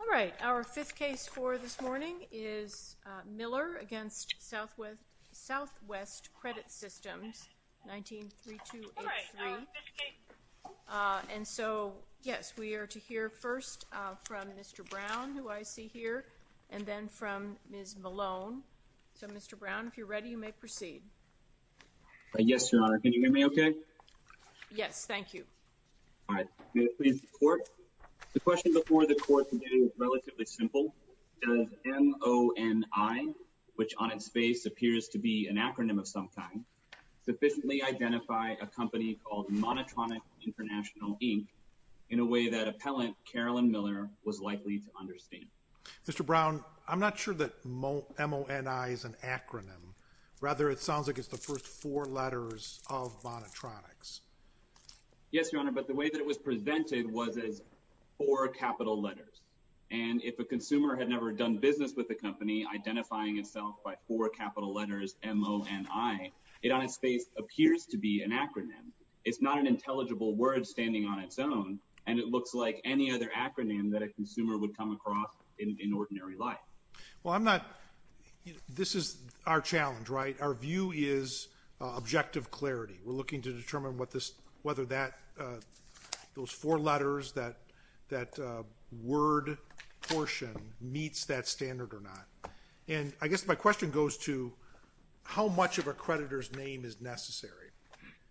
All right, our fifth case for this morning is Miller v. Southwest Credit Systems, 19-3283. And so, yes, we are to hear first from Mr. Brown, who I see here, and then from Ms. Malone. So, Mr. Brown, if you're ready, you may proceed. Yes, Your Honor, can you hear me okay? Yes. Thank you. All right. May I please report? The question before the court today is relatively simple. Does MONI, which on its face appears to be an acronym of some kind, sufficiently identify a company called Monotronic International, Inc., in a way that appellant Carolyn Miller was likely to understand? Mr. Brown, I'm not sure that MONI is an acronym. Rather, it sounds like it's the first four letters of monotronics. Yes, Your Honor, but the way that it was presented was as four capital letters. And if a consumer had never done business with the company, identifying itself by four capital letters, M-O-N-I, it on its face appears to be an acronym. It's not an intelligible word standing on its own, and it looks like any other acronym that a consumer would come across in ordinary life. Well, I'm not – this is our challenge, right? Our view is objective clarity. We're looking to determine what this – whether that – those four letters, that word portion meets that standard or not. And I guess my question goes to how much of a creditor's name is necessary?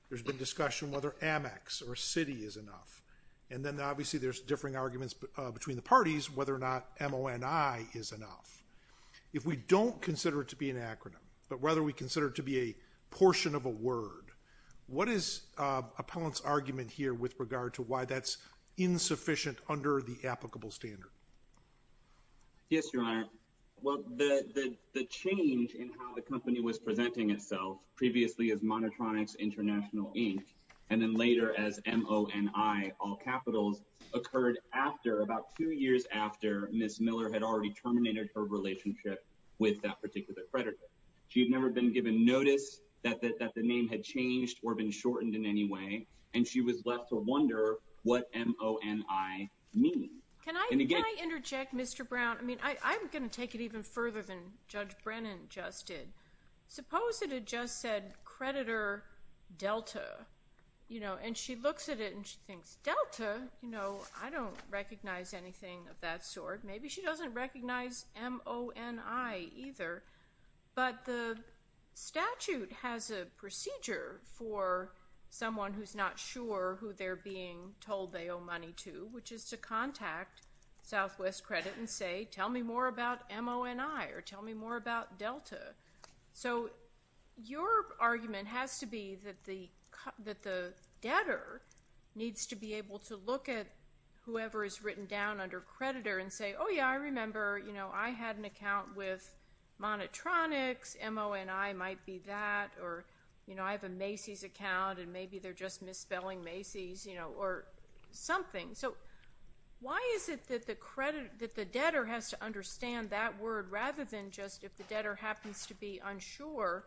There's been discussion whether Amex or Citi is enough. And then, obviously, there's differing arguments between the parties whether or not M-O-N-I is enough. If we don't consider it to be an acronym, but rather we consider it to be a portion of a word, what is Appellant's argument here with regard to why that's insufficient under the applicable standard? Yes, Your Honor. Well, the change in how the company was presenting itself, previously as Monotronics International Inc., and then later as M-O-N-I All Capitals, occurred after – about two years after Ms. Miller had already terminated her relationship with that particular creditor. She had never been given notice that the name had changed or been shortened in any way, and she was left to wonder what M-O-N-I means. Can I interject, Mr. Brown? I mean, I'm going to take it even further than Judge Brennan just did. Suppose that it just said, creditor Delta, you know, and she looks at it and she thinks, Delta? You know, I don't recognize anything of that sort. Maybe she doesn't recognize M-O-N-I either, but the statute has a procedure for someone who's not sure who they're being told they owe money to, which is to contact Southwest Credit and say, tell me more about M-O-N-I or tell me more about Delta. So your argument has to be that the debtor needs to be able to look at whoever is written down under creditor and say, oh, yeah, I remember, you know, I had an account with monotronics, M-O-N-I might be that, or, you know, I have a Macy's account and maybe they're just misspelling Macy's, you know, or something. So why is it that the creditor, that the debtor has to understand that word rather than just if the debtor happens to be unsure,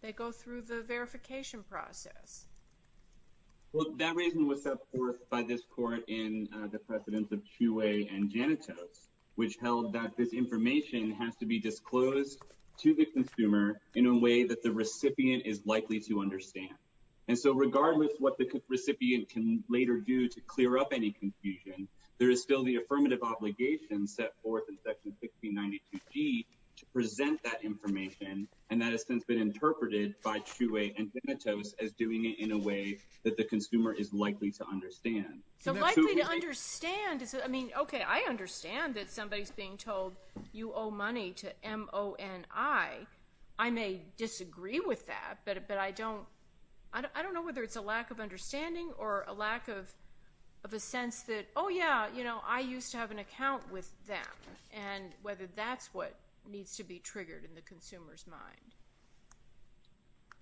they go through the verification process? Well, that reason was set forth by this court in the precedence of Chouet and Janitos, which held that this information has to be disclosed to the consumer in a way that the recipient is likely to understand. And so regardless what the recipient can later do to clear up any confusion, there is still the affirmative obligation set forth in Section 1692G to present that information, and that has since been interpreted by Chouet and Janitos as doing it in a way that the consumer is likely to understand. So likely to understand, I mean, okay, I understand that somebody's being told you owe money to M-O-N-I. I may disagree with that, but I don't know whether it's a lack of understanding or a lack of a sense that, oh, yeah, you know, I used to have an account with them, and whether that's what needs to be triggered in the consumer's mind.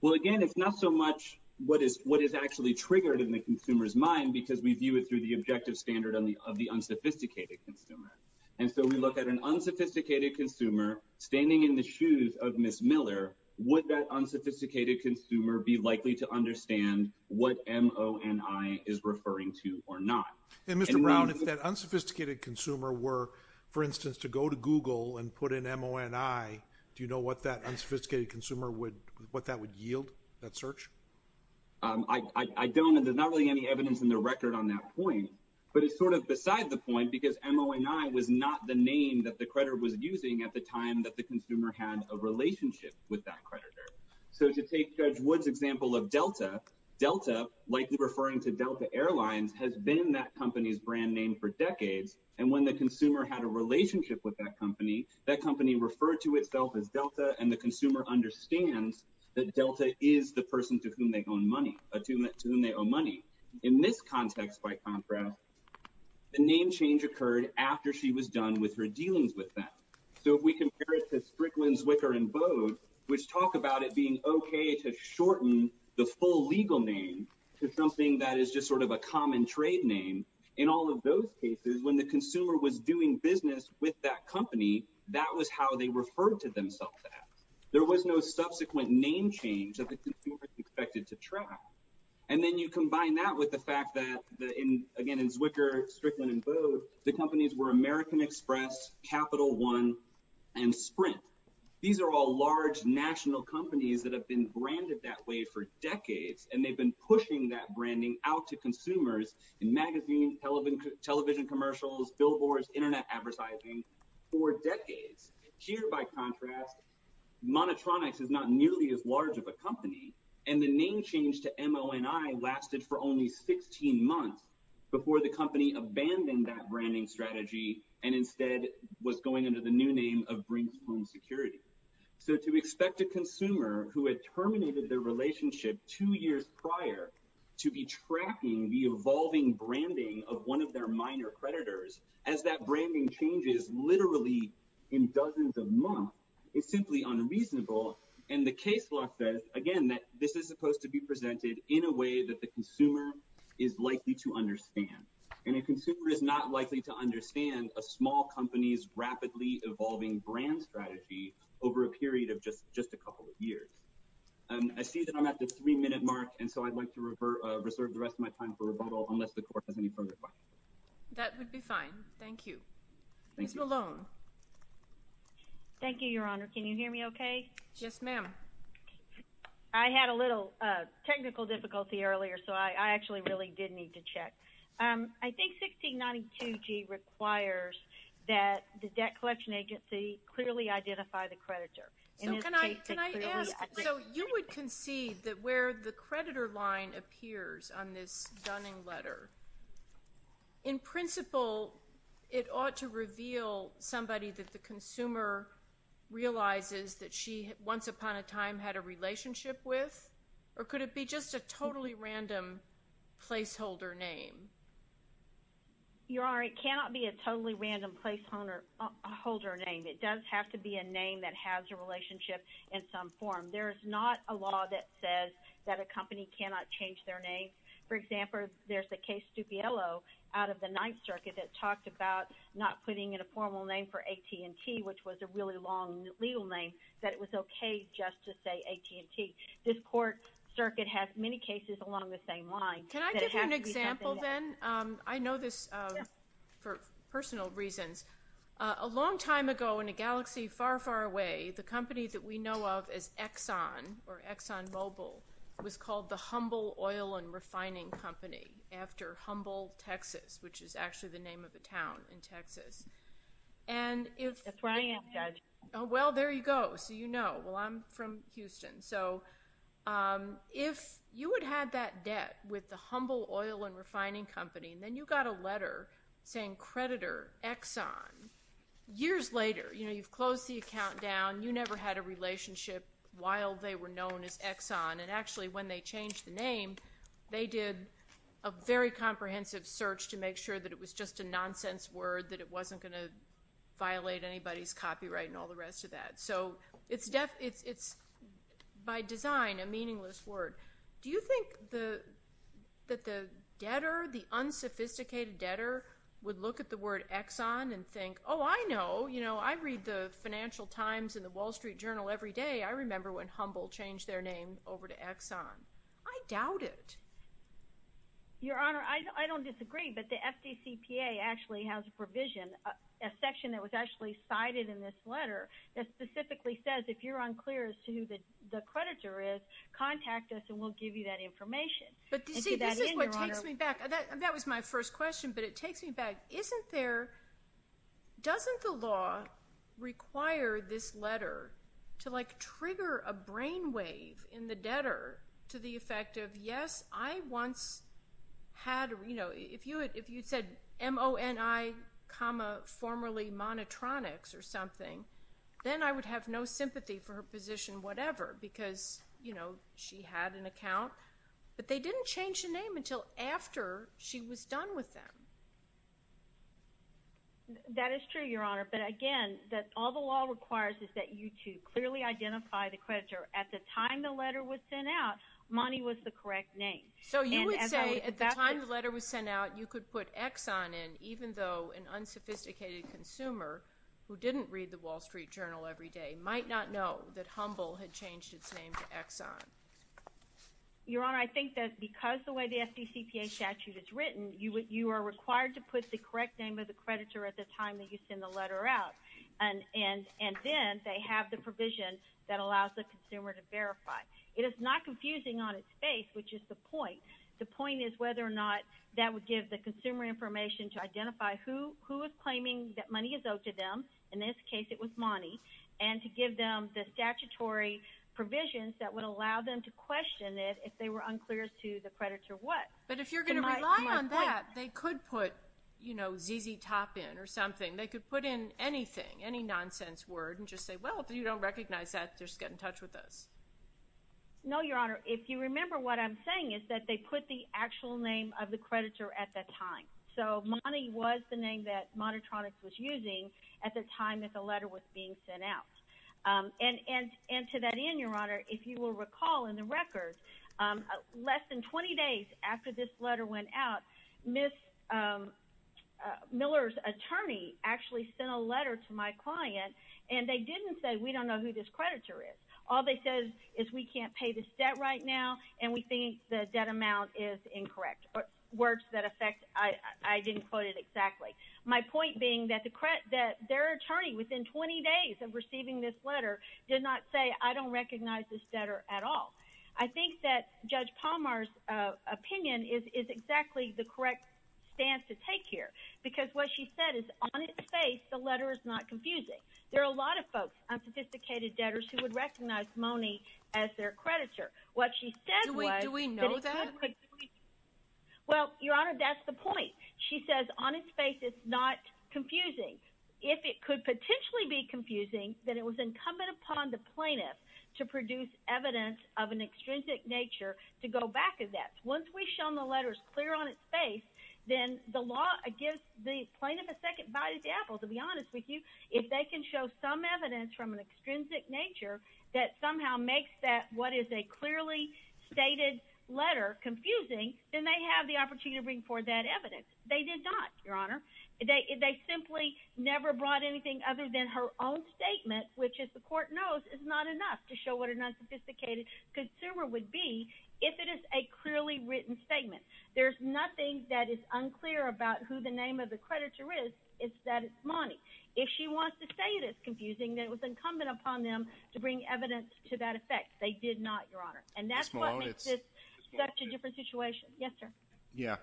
Well, again, it's not so much what is actually triggered in the consumer's mind because we view it through the objective standard of the unsophisticated consumer. And so we look at an unsophisticated consumer standing in the shoes of Ms. Miller. Would that unsophisticated consumer be likely to understand what M-O-N-I is referring to or not? And Mr. Brown, if that unsophisticated consumer were, for instance, to go to Google and put in M-O-N-I, do you know what that unsophisticated consumer would, what that would yield, that search? I don't, and there's not really any evidence in the record on that point, but it's sort of beside the point because M-O-N-I was not the name that the creditor was using at the time that the consumer had a relationship with that creditor. So to take Judge Wood's example of Delta, Delta, likely referring to Delta Airlines, has been that company's brand name for decades. And when the consumer had a relationship with that company, that company referred to itself as Delta, and the consumer understands that Delta is the person to whom they own money. In this context, by contrast, the name change occurred after she was done with her dealings with them. So if we compare it to Strickland, Zwicker, and Bode, which talk about it being okay to a common trade name, in all of those cases, when the consumer was doing business with that company, that was how they referred to themselves as. There was no subsequent name change that the consumer expected to track. And then you combine that with the fact that, again, in Zwicker, Strickland, and Bode, the companies were American Express, Capital One, and Sprint. These are all large national companies that have been branded that way for decades, and they've been pushing that branding out to consumers in magazines, television commercials, billboards, internet advertising for decades. Here by contrast, Monotronics is not nearly as large of a company, and the name change to MONI lasted for only 16 months before the company abandoned that branding strategy and instead was going under the new name of Brinks Home Security. So to expect a consumer who had terminated their relationship two years prior to be tracking the evolving branding of one of their minor creditors, as that branding changes literally in dozens of months, is simply unreasonable. And the case law says, again, that this is supposed to be presented in a way that the consumer is likely to understand. And a consumer is not likely to understand a small company's rapidly evolving brand strategy over a period of just a couple of years. I see that I'm at the three-minute mark, and so I'd like to reserve the rest of my time for rebuttal unless the Court has any further questions. That would be fine. Thank you. Ms. Malone. Thank you, Your Honor. Can you hear me okay? Yes, ma'am. I had a little technical difficulty earlier, so I actually really did need to check. I think 1692G requires that the debt collection agency clearly identify the creditor. So can I ask, so you would concede that where the creditor line appears on this Dunning letter, in principle, it ought to reveal somebody that the consumer realizes that she once upon a time had a relationship with, or could it be just a totally random placeholder name? Your Honor, it cannot be a totally random placeholder name. It does have to be a name that has a relationship in some form. There is not a law that says that a company cannot change their name. For example, there's the case Stupiello out of the Ninth Circuit that talked about not putting in a formal name for AT&T, which was a really long legal name, that it was okay just to say AT&T. This court circuit has many cases along the same line. Can I give you an example then? I know this for personal reasons. A long time ago in a galaxy far, far away, the company that we know of as Exxon or Exxon Mobil was called the Humble Oil and Refining Company after Humble, Texas, which is actually the name of a town in Texas. That's where I am, Judge. Well, there you go. So you know. I'm from Houston. So if you had had that debt with the Humble Oil and Refining Company, then you got a letter saying, creditor, Exxon. Years later, you've closed the account down. You never had a relationship while they were known as Exxon. And actually, when they changed the name, they did a very comprehensive search to make sure that it was just a nonsense word, that it wasn't going to violate anybody's copyright and all the rest of that. So it's by design a meaningless word. Do you think that the debtor, the unsophisticated debtor, would look at the word Exxon and think, oh, I know. I read the Financial Times and the Wall Street Journal every day. I remember when Humble changed their name over to Exxon. I doubt it. Your Honor, I don't disagree. But the FDCPA actually has a provision, a section that was actually cited in this letter that specifically says, if you're unclear as to who the creditor is, contact us and we'll give you that information. But see, this is what takes me back. That was my first question. But it takes me back. Doesn't the law require this letter to trigger a brainwave in the debtor to the effect of, yes, I once had, you know, if you said M-O-N-I comma formerly monotronics or something, then I would have no sympathy for her position whatever because, you know, she had an account. But they didn't change the name until after she was done with them. That is true, Your Honor. But again, all the law requires is that you two clearly identify the creditor. At the time the letter was sent out, Monty was the correct name. So you would say at the time the letter was sent out, you could put Exxon in even though an unsophisticated consumer who didn't read the Wall Street Journal every day might not know that Humble had changed its name to Exxon? Your Honor, I think that because the way the FDCPA statute is written, you are required to put the correct name of the creditor at the time that you send the letter out. And then they have the provision that allows the consumer to verify. It is not confusing on its face, which is the point. The point is whether or not that would give the consumer information to identify who is claiming that money is owed to them. In this case, it was Monty. And to give them the statutory provisions that would allow them to question it if they were unclear as to the creditor what. But if you're going to rely on that, they could put, you know, ZZ Top in or something. They could put in anything, any nonsense word and just say, well, if you don't recognize that, just get in touch with us. No, Your Honor, if you remember what I'm saying is that they put the actual name of the creditor at that time. So, Monty was the name that Monotronics was using at the time that the letter was being sent out. And to that end, Your Honor, if you will recall in the record, less than 20 days after this actually sent a letter to my client and they didn't say, we don't know who this creditor is. All they said is we can't pay this debt right now and we think the debt amount is incorrect. Words that affect, I didn't quote it exactly. My point being that their attorney within 20 days of receiving this letter did not say, I don't recognize this debtor at all. I think that Judge Palmer's opinion is exactly the correct stance to take here. Because what she said is on its face, the letter is not confusing. There are a lot of folks, unsophisticated debtors, who would recognize Monty as their creditor. What she said was- Do we know that? Well, Your Honor, that's the point. She says on its face, it's not confusing. If it could potentially be confusing, then it was incumbent upon the plaintiff to produce evidence of an extrinsic nature to go back at that. Once we've shown the letter is clear on its face, then the law gives the plaintiff a second bite at the apple. To be honest with you, if they can show some evidence from an extrinsic nature that somehow makes that what is a clearly stated letter confusing, then they have the opportunity to bring forth that evidence. They did not, Your Honor. They simply never brought anything other than her own statement, which as the court knows, is not enough to show what an unsophisticated consumer would be if it is a clearly written statement. There's nothing that is unclear about who the name of the creditor is, is that it's Monty. If she wants to say it is confusing, then it was incumbent upon them to bring evidence to that effect. They did not, Your Honor. And that's what makes this such a different situation. Yes, sir. Yeah.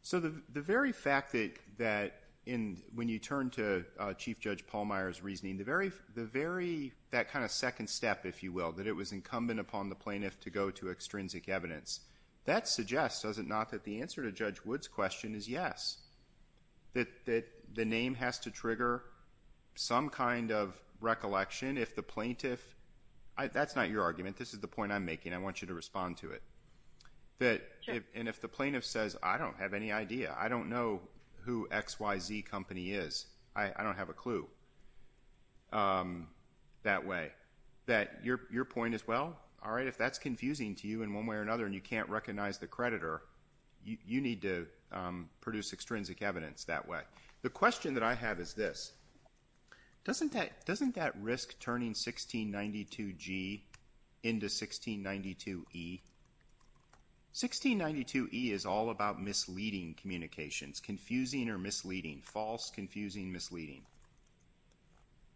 So the very fact that when you turn to Chief Judge Pallmeyer's reasoning, the very- that kind of second step, if you will, that it was incumbent upon the plaintiff to go to extrinsic evidence, that suggests, does it not, that the answer to Judge Wood's question is yes. That the name has to trigger some kind of recollection if the plaintiff- that's not your argument. This is the point I'm making. I want you to respond to it. And if the plaintiff says, I don't have any idea. I don't know who XYZ Company is. That your point as well? All right. If that's confusing to you in one way or another and you can't recognize the creditor, you need to produce extrinsic evidence that way. The question that I have is this. Doesn't that risk turning 1692G into 1692E? 1692E is all about misleading communications. Confusing or misleading. False, confusing, misleading.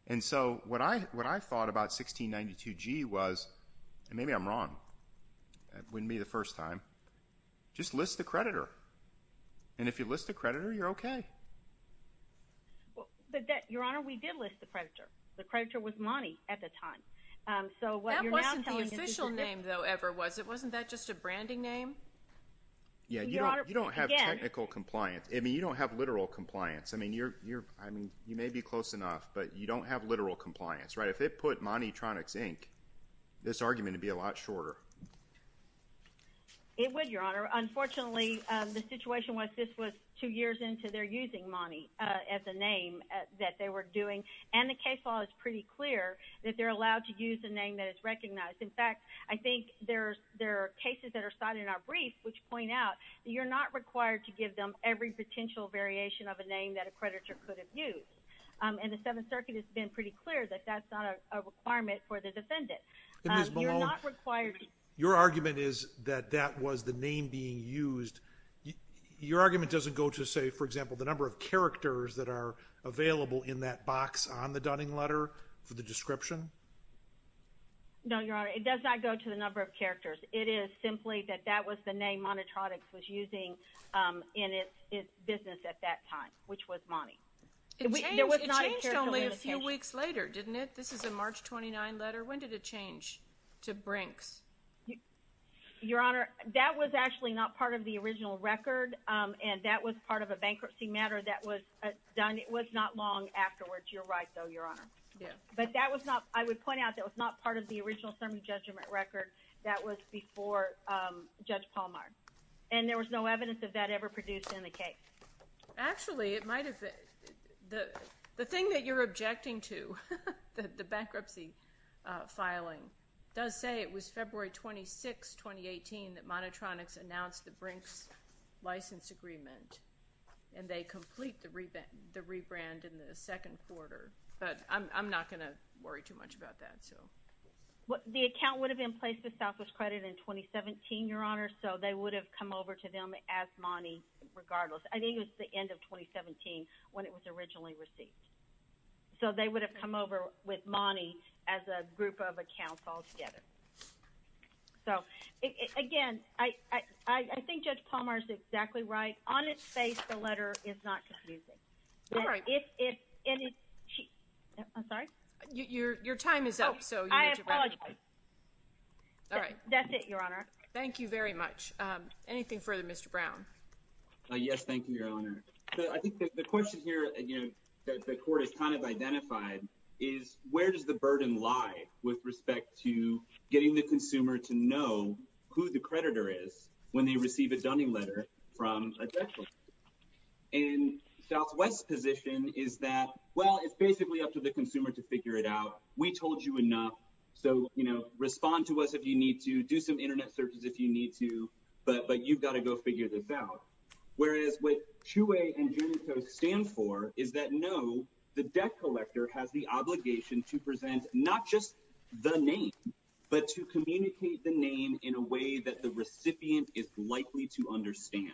And so, what I thought about 1692G was, and maybe I'm wrong, that wouldn't be the first time, just list the creditor. And if you list the creditor, you're okay. But, Your Honor, we did list the creditor. The creditor was Monty at the time. So, what you're now telling us is- That wasn't the official name, though, ever, was it? Wasn't that just a branding name? Yeah, you don't have technical compliance. I mean, you don't have literal compliance. I mean, you may be close enough, but you don't have literal compliance, right? If it put Monty Tronics, Inc., this argument would be a lot shorter. It would, Your Honor. Unfortunately, the situation was this was two years into their using Monty as a name that they were doing. And the case law is pretty clear that they're allowed to use a name that is recognized. In fact, I think there are cases that are cited in our brief which point out that you're not required to give them every potential variation of a name that a creditor could have used. And the Seventh Circuit has been pretty clear that that's not a requirement for the defendant. And Ms. Malone, your argument is that that was the name being used. Your argument doesn't go to, say, for example, the number of characters that are available in that box on the Dunning letter for the description? No, Your Honor. It does not go to the number of characters. It is simply that that was the name Monty Tronics was using in its business at that time, which was Monty. It changed only a few weeks later, didn't it? This is a March 29 letter. When did it change to Brinks? Your Honor, that was actually not part of the original record, and that was part of a bankruptcy matter that was done. It was not long afterwards. You're right, though, Your Honor. Yeah. But that was not I would point out that was not part of the original Sermon judgment record. That was before Judge Palmar. And there was no evidence of that ever produced in the case. Actually, it might have. The thing that you're objecting to, the bankruptcy filing, does say it was February 26, 2018, that Monty Tronics announced the Brinks license agreement, and they complete the rebrand in the second quarter. But I'm not going to worry too much about that, so. The account would have been placed with Southwest Credit in 2017, Your Honor, so they would have come over to them as Monty, regardless. I think it was the end of 2017 when it was originally received. So they would have come over with Monty as a group of accounts altogether. So, again, I think Judge Palmar is exactly right. On its face, the letter is not confusing. You're right. And if she—I'm sorry? Your time is up, so— I apologize. All right. That's it, Your Honor. Thank you very much. Anything further, Mr. Brown? Yes, thank you, Your Honor. I think the question here, again, that the Court has kind of identified is where does the burden lie with respect to getting the consumer to know who the creditor is when they receive a Dunning letter from a creditor? And Southwest's position is that, well, it's basically up to the consumer to figure it out. We told you enough, so, you know, respond to us if you need to. Do some internet searches if you need to, but you've got to go figure this out. Whereas what Chuey and Genito stand for is that, no, the debt collector has the obligation to present not just the name, but to communicate the name in a way that the recipient is likely to understand.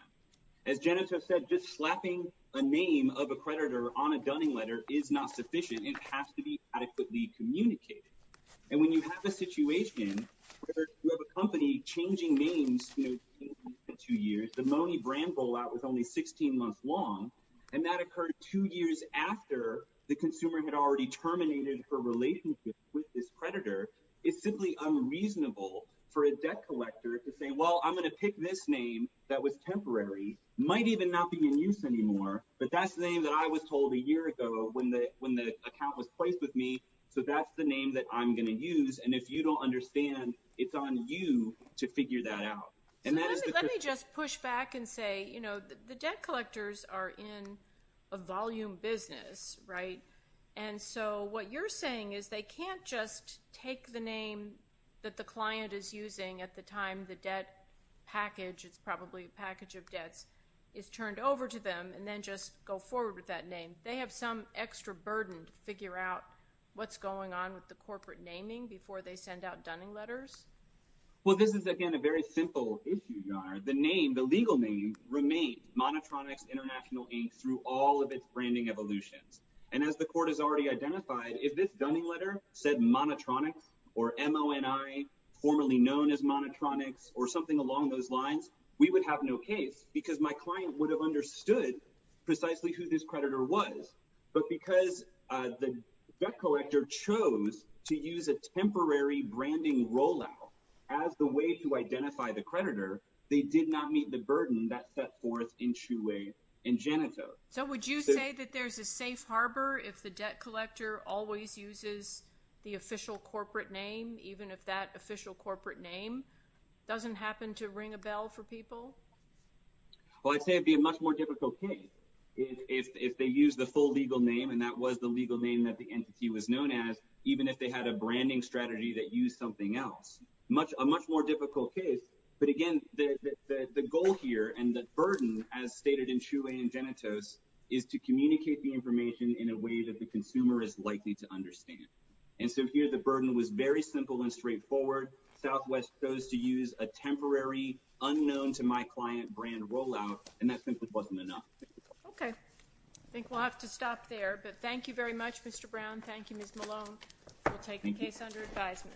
As Genito said, just slapping a name of a creditor on a Dunning letter is not sufficient. It has to be adequately communicated. And when you have a situation where you have a company changing names, you know, in two years—the Money brand rollout was only 16 months long—and that occurred two years after the consumer had already terminated her relationship with this creditor, it's simply unreasonable for a debt collector to say, well, I'm going to pick this name that was temporary, might even not be in use anymore, but that's the name that I was told a year ago when the account was placed with me, so that's the name that I'm going to use. And if you don't understand, it's on you to figure that out. So let me just push back and say, you know, the debt collectors are in a volume business, right? And so what you're saying is they can't just take the name that the client is using at the time the debt package—it's probably a package of debts—is turned over to them and then just go forward with that name. They have some extra burden to figure out what's going on with the corporate naming before they send out Dunning letters? Well, this is, again, a very simple issue, Your Honor. The name, the legal name, remains Monotronics International Inc. through all of its branding evolutions. And as the Court has already identified, if this Dunning letter said Monotronics, or M-O-N-I, formerly known as Monotronics, or something along those lines, we would have no case because my client would have understood precisely who this creditor was. But because the debt collector chose to use a temporary branding rollout as the way to identify the creditor, they did not meet the burden that's set forth in Chouet and Janito. So would you say that there's a safe harbor if the debt collector always uses the official corporate name, doesn't happen to ring a bell for people? Well, I'd say it'd be a much more difficult case if they use the full legal name, and that was the legal name that the entity was known as, even if they had a branding strategy that used something else. A much more difficult case. But again, the goal here and the burden, as stated in Chouet and Janito, is to communicate the information in a way that the consumer is likely to understand. And so here the burden was very simple and straightforward. Southwest chose to use a temporary, unknown-to-my-client brand rollout, and that simply wasn't enough. Okay, I think we'll have to stop there. But thank you very much, Mr. Brown. Thank you, Ms. Malone. We'll take the case under advisement.